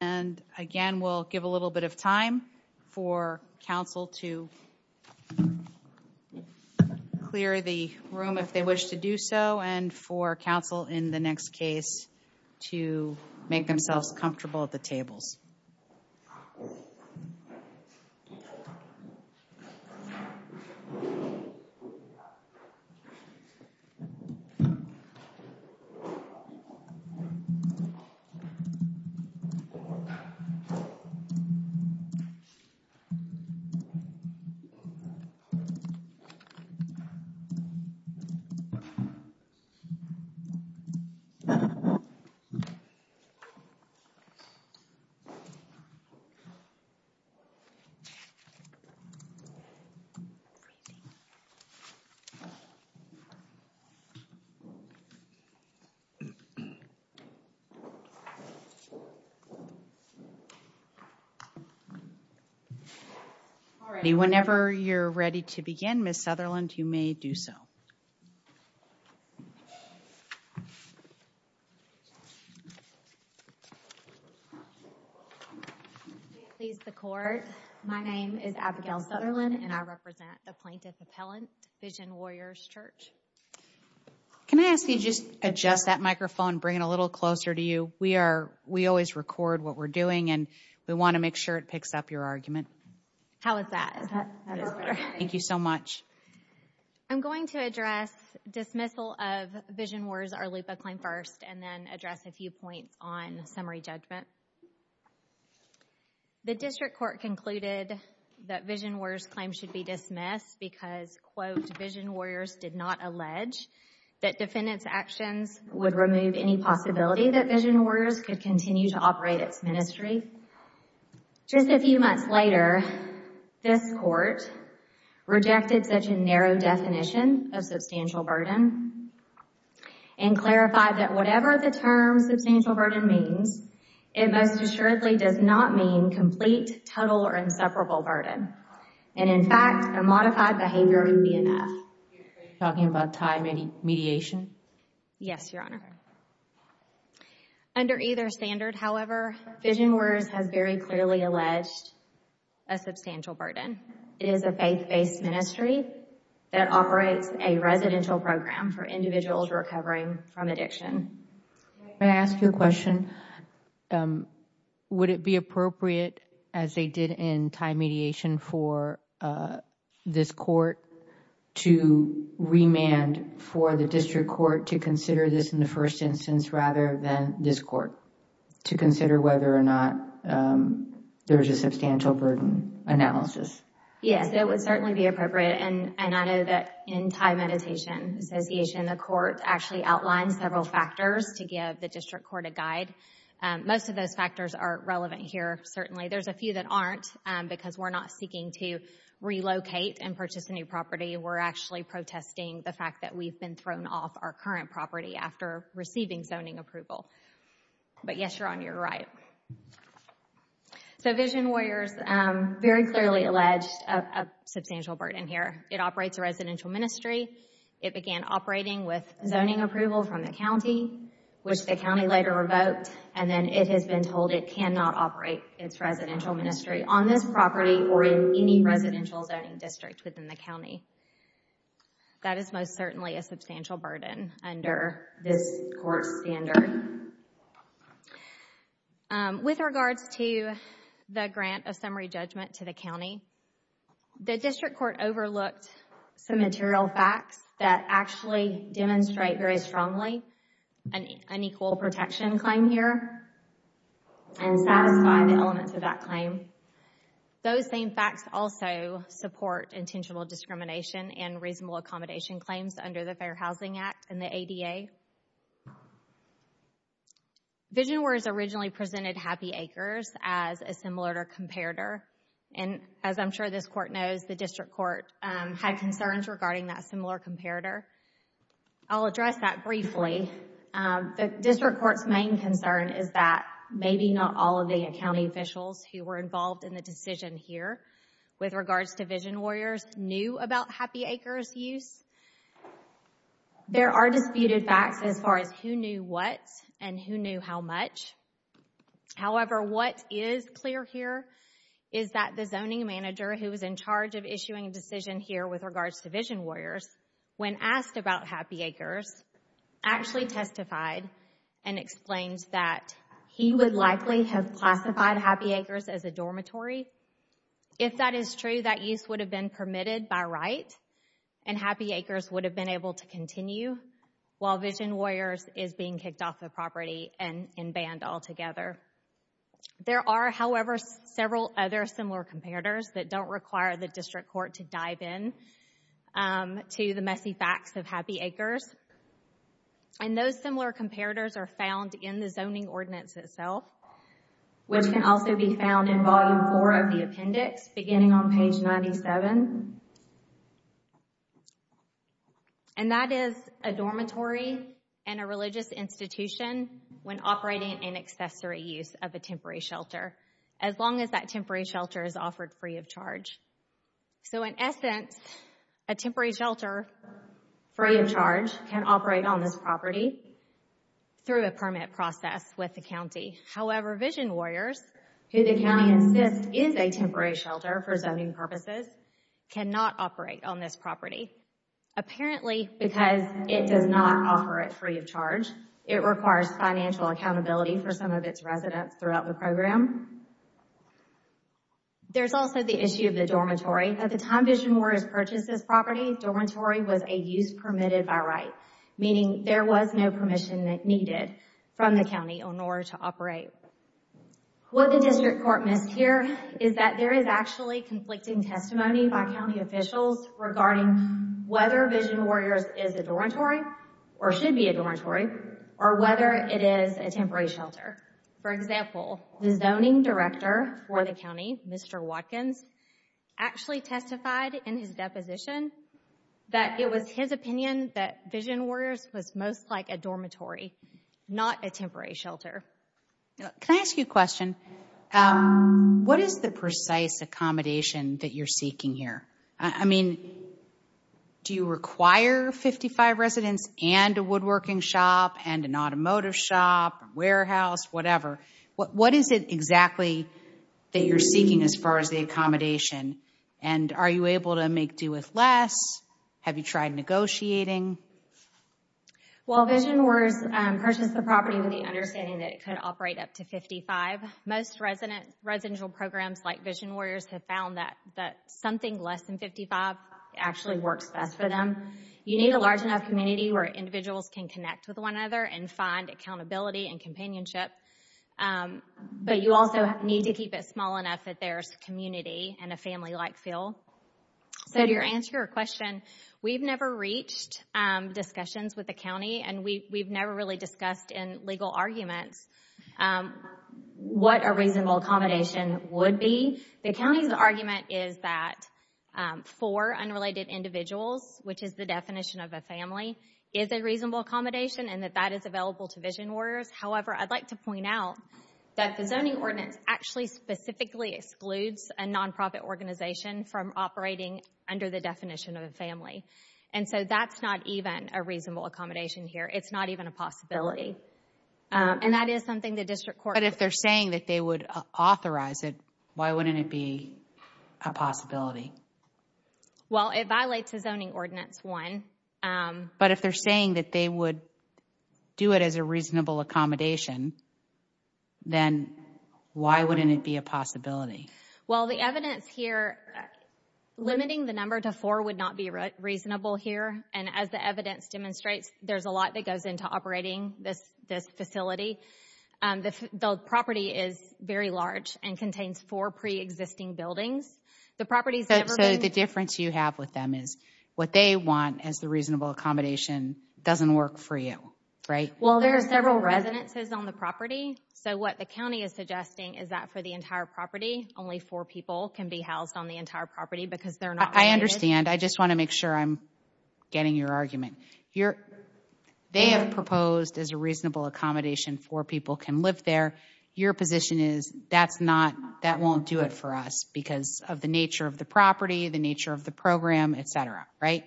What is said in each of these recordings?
and again we'll give a little bit of time for council to clear the room if they wish to do so and for council in the next case to make themselves comfortable at the tables all righty whenever you're ready to begin miss Sutherland you may do so please the court my name is Abigail Sutherland and I represent the plaintiff appellant Vision Warriors Church can I ask you just adjust that microphone bring it a little closer to you we are we always record what we're doing and we want to make sure it picks up your argument how is that thank you so much I'm going to address dismissal of Vision Warriors Arloopa claim first and then address a few points on summary judgment the district court concluded that Vision Warriors claim should be dismissed because quote Vision Warriors did not allege that defendants actions would remove any possibility that Vision Warriors could continue to operate its ministry just a few months later this court rejected such a narrow definition of substantial burden and clarified that whatever the term substantial burden means it most assuredly does not mean complete total or inseparable burden and in fact a modified behavior would be enough talking about time any mediation yes your honor under either standard however Vision Warriors has very clearly alleged a substantial burden it is a faith-based ministry that operates a residential program for individuals recovering from addiction may I ask you a question would it be appropriate as they did in time mediation for this court to remand for the district court to consider this in the first instance rather than this court to consider whether or not there's a substantial burden analysis yes it would certainly be appropriate and I know that in time meditation association the court actually outlined several factors to give the district court a guide most of those factors are relevant here certainly there's a few that aren't because we're not seeking to relocate and purchase a new property we're actually protesting the fact that we've been thrown off our current property after receiving zoning approval but yes you're on your right so Vision Warriors very clearly alleged a substantial burden here it operates a residential ministry it began operating with zoning approval from the county which the county later revoked and then it has been told it cannot operate its residential ministry on this property or in any residential zoning district within the county that is most certainly a substantial burden under this court standard with regards to the grant of summary judgment to the county the district court overlooked some material facts that actually demonstrate very strongly an unequal protection claim here and satisfy the elements of that claim those same facts also support intentional discrimination and reasonable accommodation claims under the Fair Housing Act and the ADA Vision Warriors originally presented Happy Acres as a similar comparator and as I'm sure this court knows the district court had concerns regarding that similar comparator I'll address that briefly the district courts main concern is that maybe not all of the accounting officials who were involved in the decision here with regards to Vision Warriors knew about Happy Acres use there are disputed facts as far as who knew what and who knew how much however what is clear here is that the zoning manager who was in charge of issuing a decision here with regards to Vision Warriors when asked about Happy Acres actually testified and explained that he would likely have classified Happy Acres as a dormitory if that is true that use would have been permitted by right and Happy Acres would have been able to continue while Vision Warriors is being kicked off the property and in band altogether there are however several other similar comparators that don't require the district court to dive in to the messy facts of Happy Acres and those similar comparators are found in the zoning ordinance itself which can also be found in volume 4 of the appendix beginning on page 97 and that is a dormitory and a religious institution when operating an accessory use of a temporary shelter as long as that temporary shelter is offered free of charge so in essence a temporary shelter free of charge can operate on this property through a permit process with the county however Vision Warriors who the county insists is a temporary shelter for zoning purposes cannot operate on this property apparently because it does not offer it free of charge it requires financial accountability for some of its residents throughout the program there's also the issue of the dormitory at the time Vision Warriors purchased this property dormitory was a use permitted by right meaning there was no permission that needed from the county on order to operate what the district court missed here is that there is actually conflicting testimony by county officials regarding whether Vision Warriors is a dormitory or should be a temporary shelter for example the zoning director for the county Mr. Watkins actually testified in his deposition that it was his opinion that Vision Warriors was most like a dormitory not a temporary shelter can I ask you a question what is the precise accommodation that you're seeking here I mean do you require 55 residents and a woodworking shop and an automotive shop warehouse whatever what is it exactly that you're seeking as far as the accommodation and are you able to make do with less have you tried negotiating well Vision Warriors purchased the property with the understanding that it could operate up to 55 most resident residential programs like Vision Warriors have found that that something less than 55 actually works best for them you need a large enough community where individuals can connect with one other and find accountability and companionship but you also need to keep it small enough that there's community and a family like feel so to your answer your question we've never reached discussions with the county and we've never really discussed in legal arguments what a reasonable accommodation would be the county's argument is that for unrelated individuals which is the definition of a family is a reasonable accommodation and that that is available to Vision Warriors however I'd like to point out that the zoning ordinance actually specifically excludes a nonprofit organization from operating under the definition of a family and so that's not even a reasonable accommodation here it's not even a possibility and that is something the district court if they're saying that they would authorize it why wouldn't it be a possibility well it violates a zoning ordinance one but if they're saying that they would do it as a reasonable accommodation then why wouldn't it be a possibility well the evidence here limiting the number to four would not be reasonable here and as the evidence demonstrates there's a lot that goes into operating this this facility the property is very large and contains four pre-existing buildings the properties that say the difference you have with them is what they want as the reasonable accommodation doesn't work for you right well there are several residences on the property so what the county is suggesting is that for the entire property only four people can be housed on the entire property because they're not I understand I just want to make sure I'm getting your argument you're they have proposed as a reasonable accommodation for people can live there your position is that's not that won't do it for us because of the nature of the property the nature of the program etc right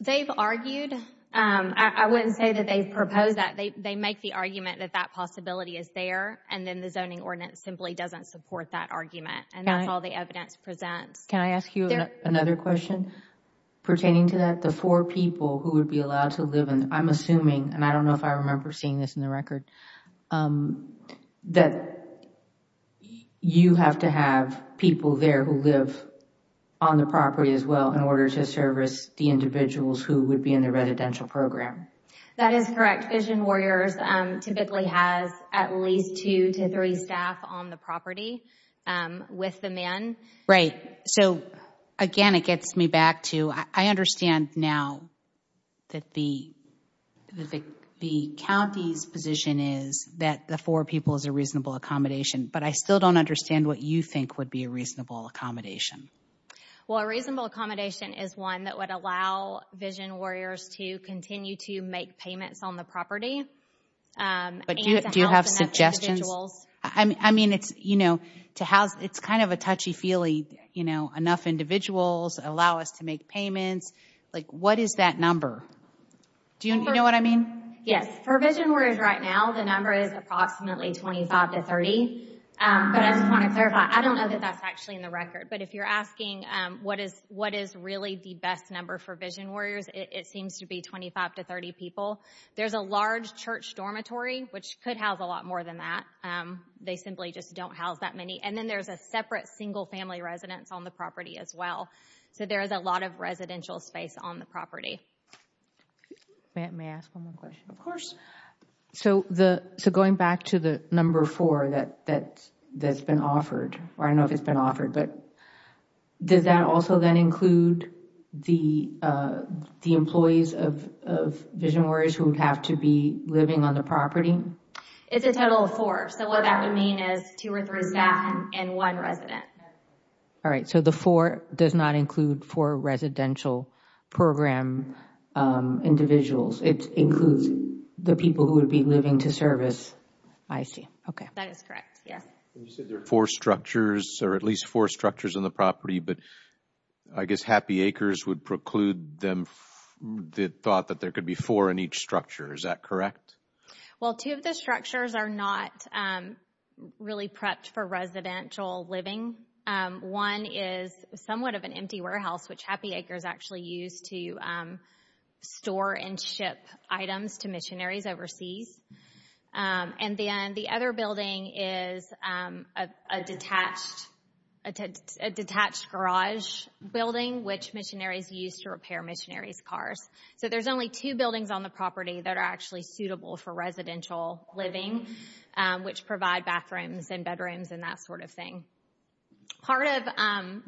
they've argued I wouldn't say that they propose that they make the argument that that possibility is there and then the zoning ordinance simply doesn't support that argument and that's all the evidence presents can I ask you another question pertaining to that the four people who would be allowed to live and I'm assuming and I don't know if I remember seeing this in the record that you have to have people there who live on the property as well in order to service the individuals who would be in the residential program that is correct vision warriors typically has at least two to three staff on the property with the man right so again it gets me back to I understand now that the the county's position is that the four people is a reasonable accommodation but I still don't understand what you think would be a is one that would allow vision warriors to continue to make payments on the property but do you have suggestions I mean it's you know to house it's kind of a touchy-feely you know enough individuals allow us to make payments like what is that number do you know what I mean yes provision where is right now the number is approximately 25 to 30 I don't know that that's actually in the really the best number for vision warriors it seems to be 25 to 30 people there's a large church dormitory which could have a lot more than that they simply just don't house that many and then there's a separate single family residence on the property as well so there is a lot of residential space on the property of course so the so going back to the number four that that that's been offered but does that also then include the the employees of vision warriors who would have to be living on the property it's a total of four so what that would mean is two or three staff and one resident all right so the four does not include for residential program individuals it includes the people who would be living to service I see okay that is correct yes four structures or at least four structures in the property but I guess happy acres would preclude them that thought that there could be four in each structure is that correct well two of the structures are not really prepped for residential living one is somewhat of an empty warehouse which happy acres actually used to store and ship items to missionaries overseas and then the other building is a detached attached garage building which missionaries used to repair missionaries cars so there's only two buildings on the property that are actually suitable for residential living which provide bathrooms and bedrooms and that sort of thing part of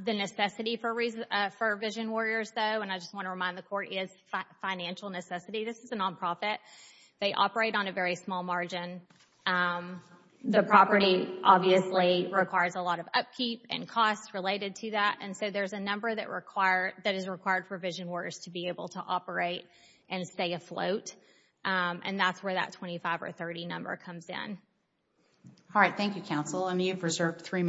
the necessity for reason for vision warriors though and I just want to remind the court is financial necessity this is a nonprofit they operate on a very small margin the property obviously requires a lot of upkeep and costs related to that and so there's a number that require that is required for vision warriors to be able to operate and stay afloat and that's where that 25 or 30 number comes in all right Thank You counsel and you've good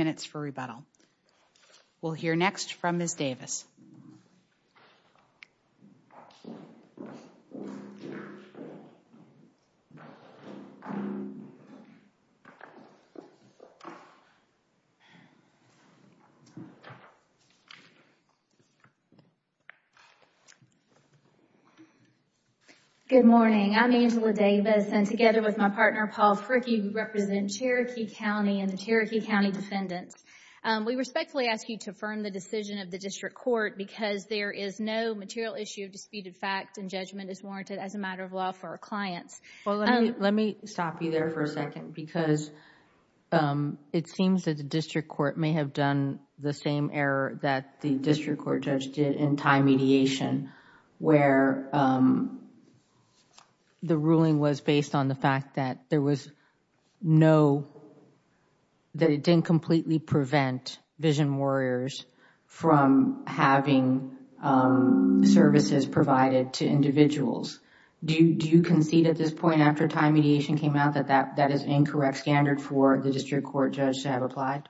morning I'm Angela Davis and together with my partner Paul Fricke represent Cherokee County and the Cherokee County defendants we respectfully ask you to affirm the decision of the district court because there is no material issue of disputed fact and judgment is warranted as a client's let me stop you there for a second because it seems that the district court may have done the same error that the district court judge did in time mediation where the ruling was based on the fact that there was no that it didn't completely prevent vision warriors from having services provided to individuals do you concede at this point after time mediation came out that that that is incorrect standard for the district court judge to have applied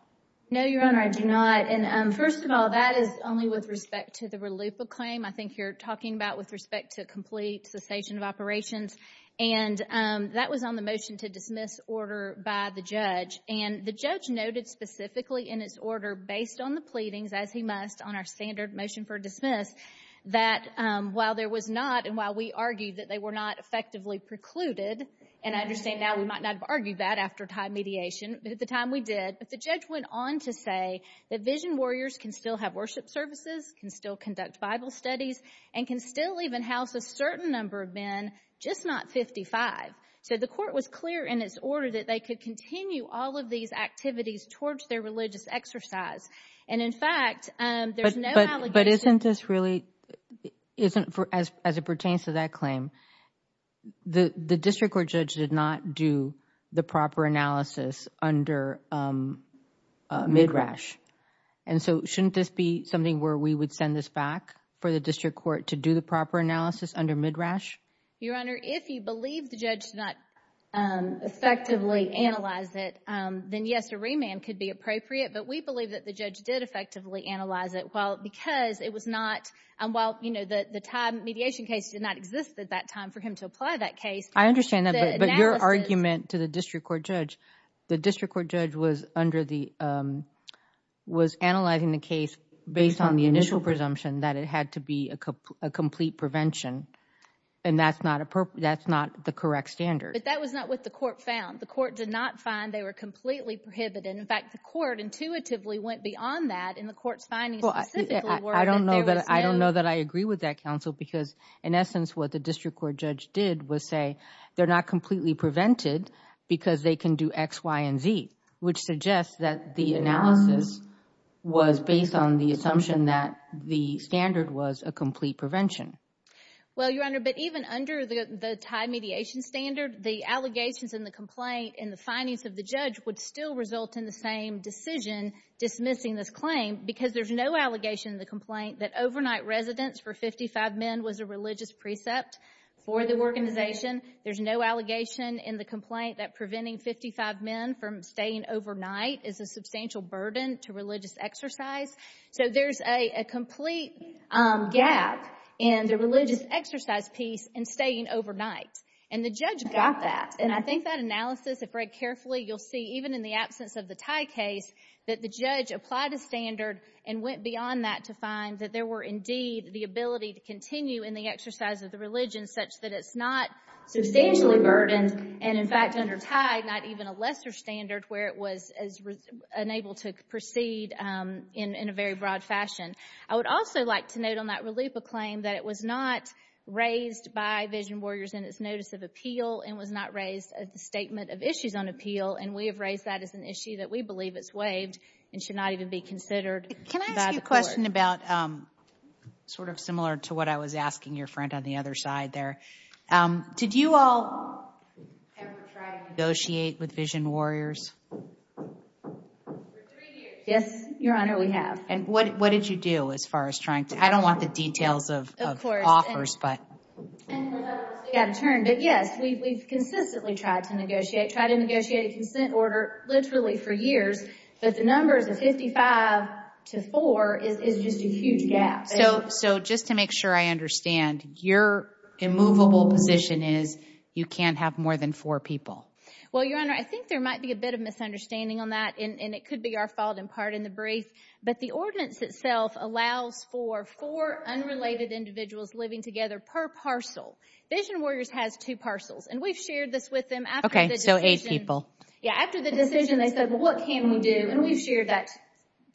no your honor I do not and first of all that is only with respect to the relief of claim I think you're talking about with respect to complete cessation of operations and that was on the motion to dismiss order by the judge and the judge noted specifically in its order based on the pleadings as he must on our standard motion for dismiss that while there was not and while we argue that they were not effectively precluded and I understand now we might not argue that after time mediation at the time we did but the judge went on to say that vision warriors can still have worship services can still conduct Bible studies and can still even house a certain number of men just not 55 so the court was clear in its order that they could continue all of these activities towards their but isn't this really isn't for as it pertains to that claim the the district court judge did not do the proper analysis under midrash and so shouldn't this be something where we would send this back for the district court to do the proper analysis under midrash your honor if you believe the judge not effectively analyze it then yes a remand could be appropriate but we believe that the judge did effectively analyze it well because it was not and while you know that the time mediation case did not exist at that time for him to apply that case I understand that but your argument to the district court judge the district court judge was under the was analyzing the case based on the initial presumption that it had to be a complete prevention and that's not a purpose that's not the correct standard but that was not what the court found the court did not find they were completely prohibited in fact the court intuitively went beyond that in the courts finding I don't know that I don't know that I agree with that counsel because in essence what the district court judge did was say they're not completely prevented because they can do X Y & Z which suggests that the analysis was based on the assumption that the standard was a complete prevention well your honor but even under the time mediation standard the allegations in the complaint in the findings of the missing this claim because there's no allegation in the complaint that overnight residence for 55 men was a religious precept for the organization there's no allegation in the complaint that preventing 55 men from staying overnight is a substantial burden to religious exercise so there's a complete gap in the religious exercise piece and staying overnight and the judge got that and I think that analysis if read carefully you'll see even in the absence of the tie case that the judge applied a standard and went beyond that to find that there were indeed the ability to continue in the exercise of the religion such that it's not substantially burdened and in fact under tied not even a lesser standard where it was as unable to proceed in a very broad fashion I would also like to note on that relief a claim that it was not raised by vision warriors in its notice of appeal and was not raised at the statement of issues on we believe it's waived and should not even be considered. Can I ask you a question about sort of similar to what I was asking your friend on the other side there did you all negotiate with vision warriors? Yes your honor we have. And what what did you do as far as trying to I don't want the details of offers but yes we've consistently tried to negotiate try to negotiate a consent order literally for years but the numbers of 55 to 4 is just a huge gap. So so just to make sure I understand your immovable position is you can't have more than four people. Well your honor I think there might be a bit of misunderstanding on that and it could be our fault in part in the brief but the ordinance itself allows for four unrelated individuals living together per parcel. Vision Warriors has two parcels and we've shared this with them okay so eight people. Yeah after the decision they said what can we do and we've shared that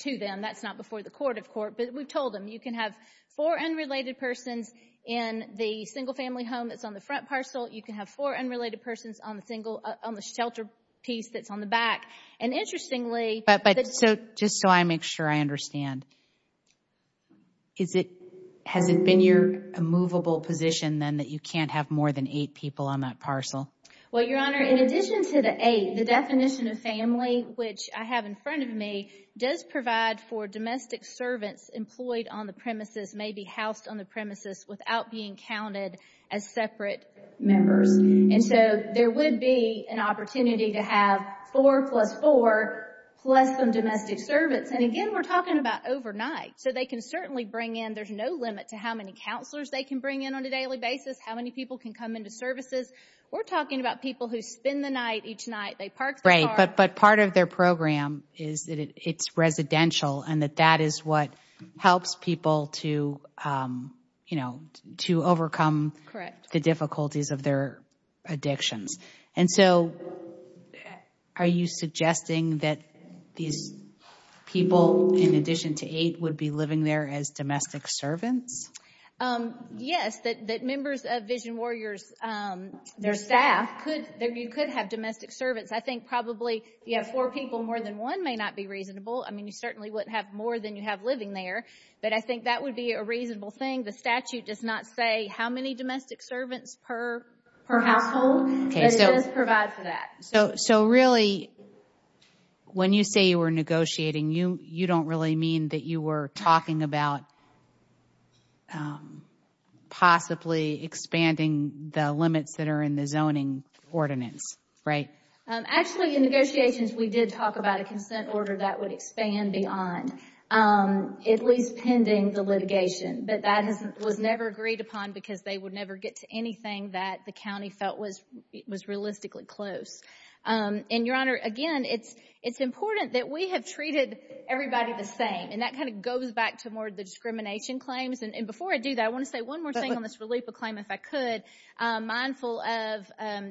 to them that's not before the court of court but we've told them you can have four unrelated persons in the single-family home that's on the front parcel you can have four unrelated persons on the single on the shelter piece that's on the back and interestingly. But but so just so I make sure I understand is it has it been your immovable position then that you can't have more than eight people on that parcel? Well your honor in addition to the eight the definition of family which I have in front of me does provide for domestic servants employed on the premises may be housed on the premises without being counted as separate members and so there would be an opportunity to have four plus four plus some domestic servants and again we're talking about overnight so they can certainly bring in there's no limit to how many counselors they can bring in on a daily basis how many people can come into services we're talking about people who spend the night each night they park. Right but but part of their program is that it's residential and that that is what helps people to you know to overcome the difficulties of their addictions and so are you suggesting that these people in addition to eight would be living there as domestic servants? Yes that that members of Vision Warriors their staff could there you could have domestic servants I think probably you have four people more than one may not be reasonable I mean you certainly wouldn't have more than you have living there but I think that would be a reasonable thing the statute does not say how many domestic servants per household. So really when you say you were negotiating you you don't really mean that you were talking about possibly expanding the limits that are in the zoning ordinance right? Actually in negotiations we did talk about a consent order that would expand beyond at least pending the litigation but that was never agreed upon because they would never get to anything that the county felt was it was realistically close and your honor again it's it's important that we have treated everybody the same and that kind of goes back to more the discrimination claims and before I do that I want to say one more thing on this relief of claim if I could mindful of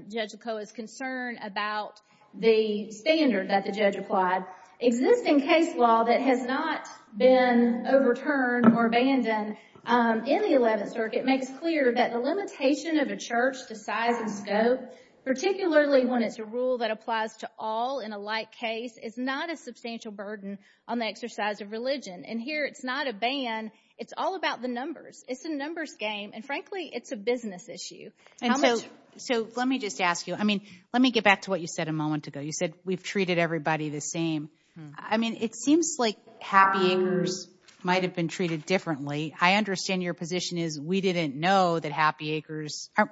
Judge Lacoa's concern about the standard that the judge applied. Existing case law that has not been overturned or abandoned in the 11th circuit makes clear that the limitation of a church to size and scope particularly when it's a rule that applies to all in a like case is not a substantial burden on the exercise of religion and here it's not a ban it's all about the numbers it's a numbers game and frankly it's a business issue. And so let me just ask you I mean let me get back to what you said a moment ago you said we've treated everybody the same I mean it seems like Happy Acres might have been treated differently I understand your position is we didn't know that Happy Acres you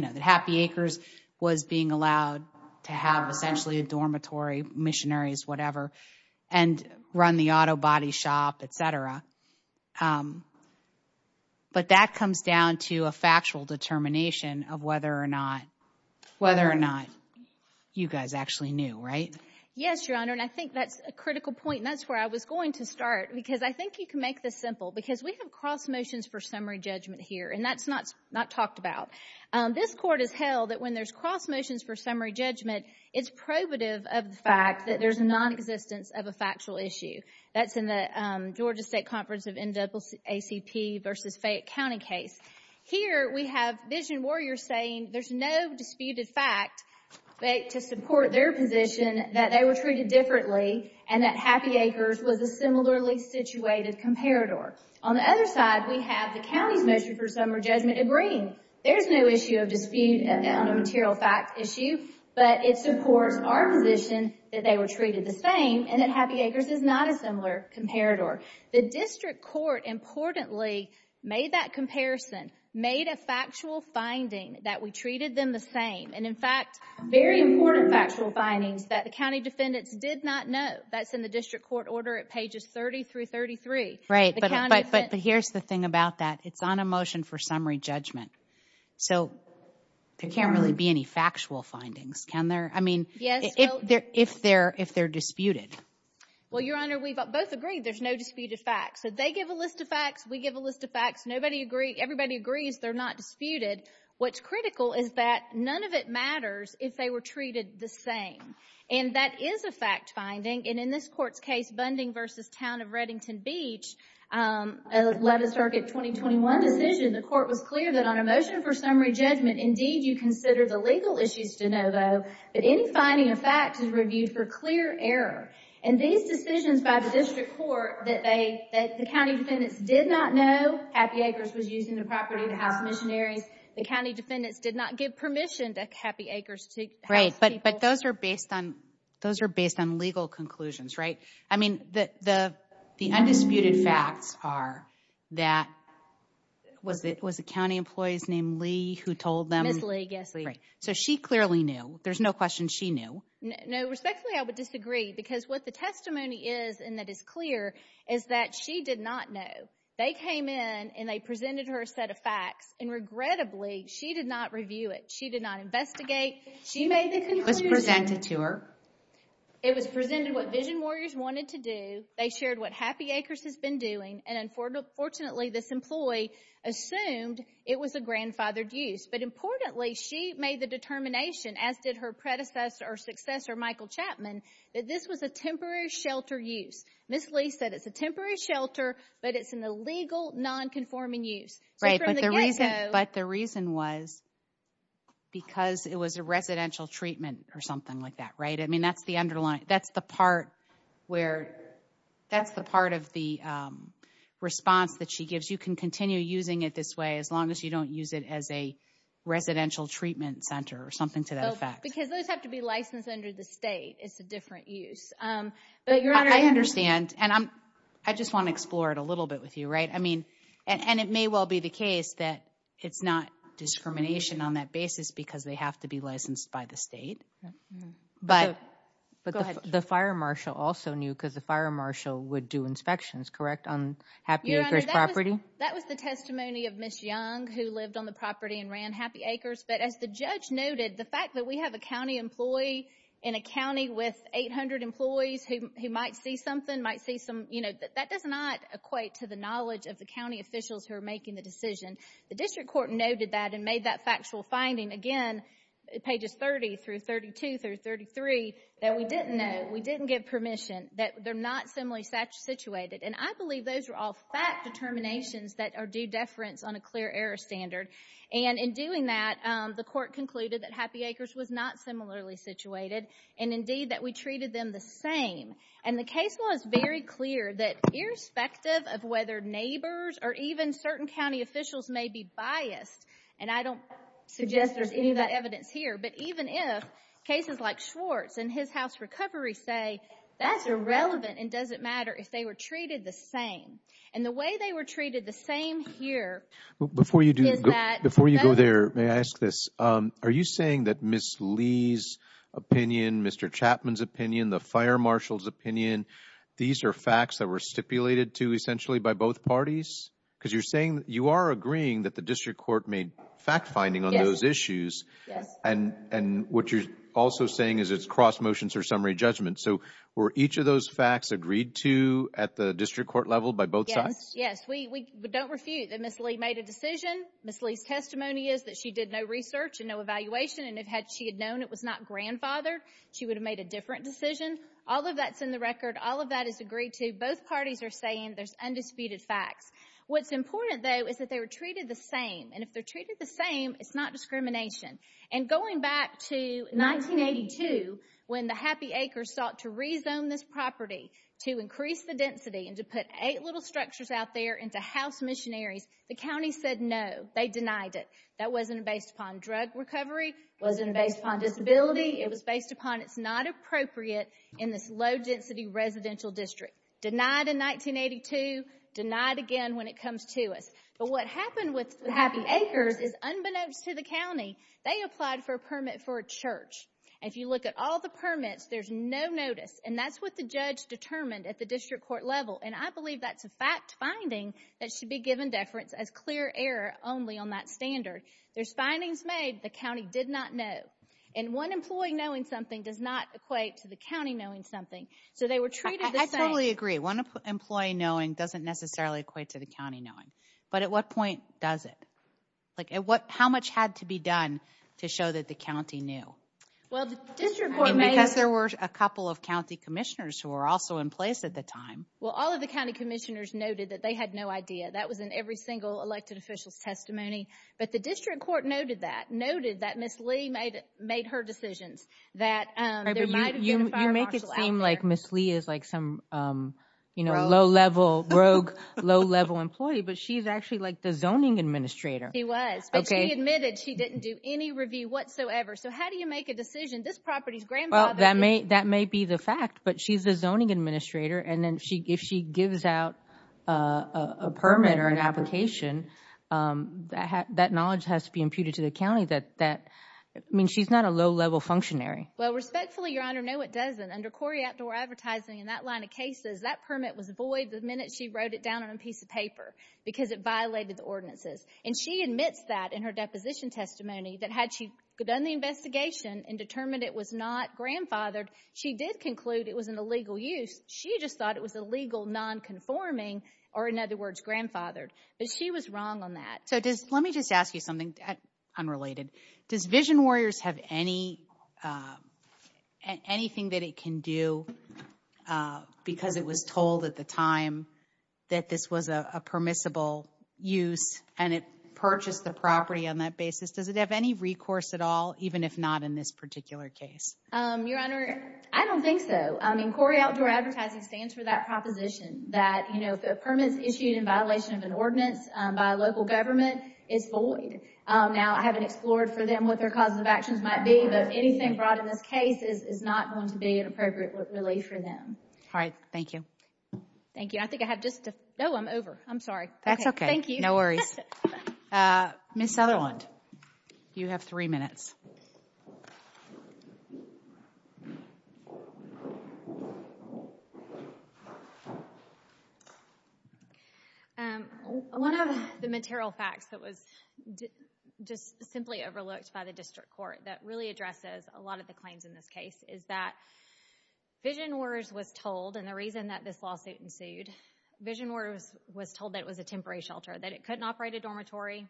know that Happy Acres was being allowed to have essentially a dormitory missionaries whatever and run the auto body shop etc but that comes down to a factual determination of whether or not whether or not you guys actually knew right? Yes your honor and I think that's a critical point that's where I was going to start because I think you can make this simple because we have cross motions for summary judgment here and that's not not talked about this court has held that when there's cross motions for summary judgment it's probative of the fact that there's a non-existence of a factual issue that's in the Georgia State Conference of NAACP versus Fayette County case. Here we have Vision Warriors saying there's no disputed fact to support their position that they were treated differently and that Happy Acres was a similarly situated comparator. On the other side we have the county's motion for summary judgment agreeing there's no issue of dispute on a material fact issue but it supports our position that they were treated the same and that Happy Acres is not a similar comparator. The district court importantly made that comparison made a factual finding that we treated them the same and in fact very important factual findings that the county defendants did not know that's in the district court order at pages 30 through 33. Right but here's the thing about that it's on a So there can't really be any factual findings can there? I mean yes if they're if they're disputed. Well your honor we've both agreed there's no disputed facts so they give a list of facts we give a list of facts nobody agree everybody agrees they're not disputed what's critical is that none of it matters if they were treated the same and that is a fact finding and in this court's case Bunding versus Town of Reddington Beach a 11th Circuit 2021 decision the court was clear that on a motion for summary judgment indeed you consider the legal issues to know though that any finding a fact is reviewed for clear error and these decisions by the district court that they that the county defendants did not know Happy Acres was using the property to house missionaries the county defendants did not give permission to Happy Acres to house people. But those are based on those are based on legal conclusions right I mean that the the undisputed facts are that was it was a county employees named Lee who told them so she clearly knew there's no question she knew no respectfully I would disagree because what the testimony is and that is clear is that she did not know they came in and they presented her a set of facts and regrettably she did not review it she did not investigate she made the It was presented what Vision Warriors wanted to do they shared what Happy Acres has been doing and unfortunately this employee assumed it was a grandfathered use but importantly she made the determination as did her predecessor or successor Michael Chapman that this was a temporary shelter use Miss Lee said it's a temporary shelter but it's an illegal non-conforming use but the reason was because it was a residential treatment or something like that right I mean that's the underlying that's the part where that's the part of the response that she gives you can continue using it this way as long as you don't use it as a residential treatment center or something to that effect because those have to be licensed under the state it's a different use but your honor I understand and I'm I just want to explore it a little bit with you right I mean and it may well be the case that it's not discrimination on that basis because they have to be licensed by the state but the fire marshal also knew because the fire marshal would do inspections correct on Happy Acres property? That was the testimony of Miss Young who lived on the property and ran Happy Acres but as the judge noted the fact that we have a county employee in a county with 800 employees who might see something might the knowledge of the county officials who are making the decision the district court noted that and made that factual finding again it pages 30 through 32 through 33 that we didn't know we didn't give permission that they're not similarly situated and I believe those are all fact determinations that are due deference on a clear error standard and in doing that the court concluded that Happy Acres was not similarly situated and indeed that we treated them the same and the case was very clear that irrespective of whether neighbors or even certain county officials may be biased and I don't suggest there's any of that evidence here but even if cases like Schwartz and his house recovery say that's irrelevant and doesn't matter if they were treated the same and the way they were treated the same here before you do that before you go there may I ask this are you saying that Miss Lee's opinion Mr. Chapman's opinion the fire marshal's opinion these are facts that were stipulated to essentially by both parties because you're saying you are agreeing that the district court made fact-finding on those issues and and what you're also saying is it's cross-motions or summary judgment so were each of those facts agreed to at the district court level by both sides yes we don't refute that miss Lee made a decision miss Lee's testimony is that she did no research and no evaluation and if had she had known it was not grandfathered she would have made a that's in the record all of that is agreed to both parties are saying there's undisputed facts what's important though is that they were treated the same and if they're treated the same it's not discrimination and going back to 1982 when the happy acres sought to rezone this property to increase the density and to put eight little structures out there into house missionaries the county said no they denied it that wasn't based upon drug recovery wasn't based on disability it was based upon it's not appropriate in this low-density residential district denied in 1982 denied again when it comes to us but what happened with happy acres is unbeknownst to the county they applied for a permit for a church if you look at all the permits there's no notice and that's what the judge determined at the district court level and I believe that's a fact finding that should be given deference as clear error only on that standard there's findings made the county did not know and one knowing something does not equate to the county knowing something so they were treated I totally agree one employee knowing doesn't necessarily equate to the county knowing but at what point does it like at what how much had to be done to show that the county knew well the district because there were a couple of county commissioners who are also in place at the time well all of the county commissioners noted that they had no idea that was in every single elected officials testimony but the district court noted that noted that miss Lee made it made her decisions that you make it seem like miss Lee is like some you know low-level rogue low-level employee but she's actually like the zoning administrator he was okay admitted she didn't do any review whatsoever so how do you make a decision this property's great well that may that may be the fact but she's a zoning administrator and then she if she gives out a permit or an application that knowledge has to be imputed to the I mean she's not a low-level functionary well respectfully your honor no it doesn't under Cory outdoor advertising in that line of cases that permit was void the minute she wrote it down on a piece of paper because it violated the ordinances and she admits that in her deposition testimony that had she done the investigation and determined it was not grandfathered she did conclude it was an illegal use she just thought it was illegal non-conforming or in other words grandfathered but she was wrong on that so does let me just ask you something unrelated does vision warriors have any anything that it can do because it was told at the time that this was a permissible use and it purchased the property on that basis does it have any recourse at all even if not in this particular case your honor I don't think so I mean Cory outdoor advertising stands for that proposition that you know the permits issued in now I haven't explored for them what their causes of actions might be but anything brought in this case is not going to be an appropriate relief for them all right thank you thank you I think I have just to know I'm over I'm sorry that's okay thank you no worries miss Sutherland you have three minutes and one of the material facts that was just simply overlooked by the district court that really addresses a lot of the claims in this case is that vision warriors was told and the reason that this lawsuit ensued vision warriors was told that it was a temporary shelter that it couldn't operate a dormitory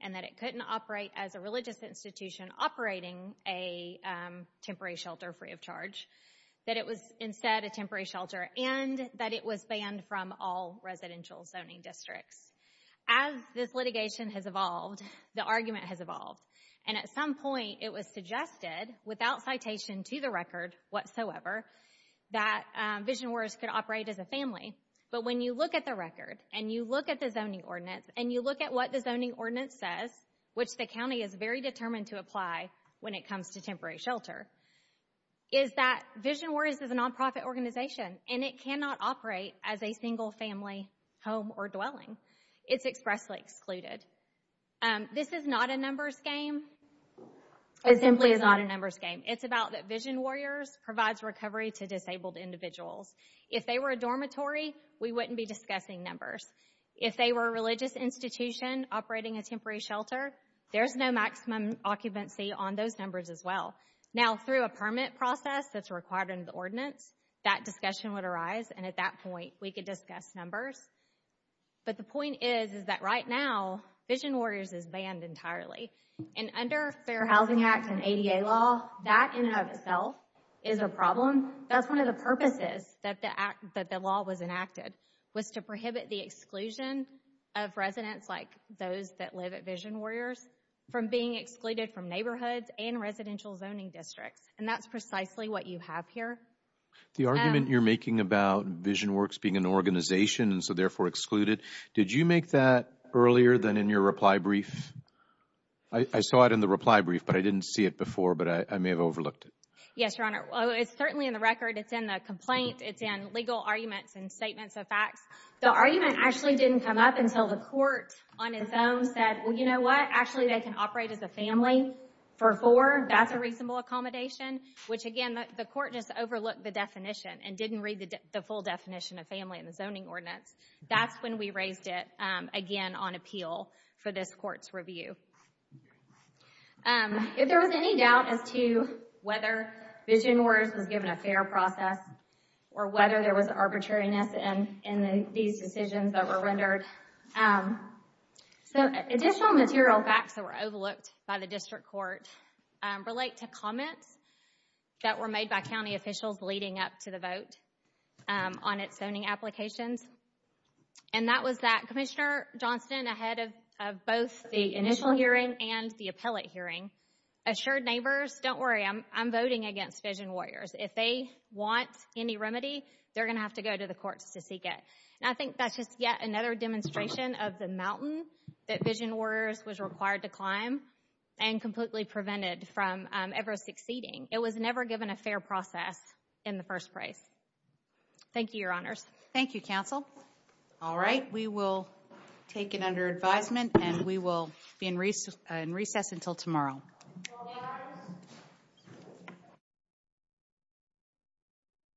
and that it couldn't operate as a religious institution operating a temporary shelter free of charge that it was instead a temporary shelter and that it was banned from all residential zoning districts as this litigation has evolved the argument has evolved and at some point it was suggested without citation to the record whatsoever that vision words could operate as a family but when you look at the record and you look at the zoning ordinance and you look at what the zoning ordinance says which the county is very determined to apply when it comes to temporary shelter is that vision worries of the nonprofit organization and it cannot operate as a single-family home or dwelling it's expressly excluded this is not a numbers game it simply is not a numbers game it's about that vision warriors provides recovery to disabled individuals if they were a dormitory we wouldn't be discussing numbers if they were a operating a temporary shelter there's no maximum occupancy on those numbers as well now through a permit process that's required in the ordinance that discussion would arise and at that point we could discuss numbers but the point is is that right now vision warriors is banned entirely and under Fair Housing Act and ADA law that in and of itself is a problem that's one of the purposes that the act that the law was enacted was to prohibit the exclusion of residents like those that live at vision warriors from being excluded from neighborhoods and residential zoning districts and that's precisely what you have here the argument you're making about vision works being an organization and so therefore excluded did you make that earlier than in your reply brief I saw it in the reply brief but I didn't see it before but I may have overlooked it yes your honor it's certainly in the record it's in the complaint it's in legal arguments and statements of facts the argument actually didn't come up until the court on its own said well you know what actually they can operate as a family for four that's a reasonable accommodation which again the court just overlooked the definition and didn't read the full definition of family in the zoning ordinance that's when we raised it again on appeal for this court's review if there was any doubt as to whether vision words was given a fair process or whether there was arbitrariness and in these decisions that were rendered so additional material facts that were overlooked by the district court relate to comments that were made by county officials leading up to the vote on its zoning applications and that was that Commissioner Johnston ahead of both the initial hearing and the appellate hearing assured neighbors don't worry I'm voting against vision warriors if they want any remedy they're gonna have to go to the courts to seek it and I think that's just yet another demonstration of the mountain that vision orders was required to climb and completely prevented from ever succeeding it was never given a fair process in the first place thank you your honors thank you counsel all right we will take it under advisement and we will be in recent recess until tomorrow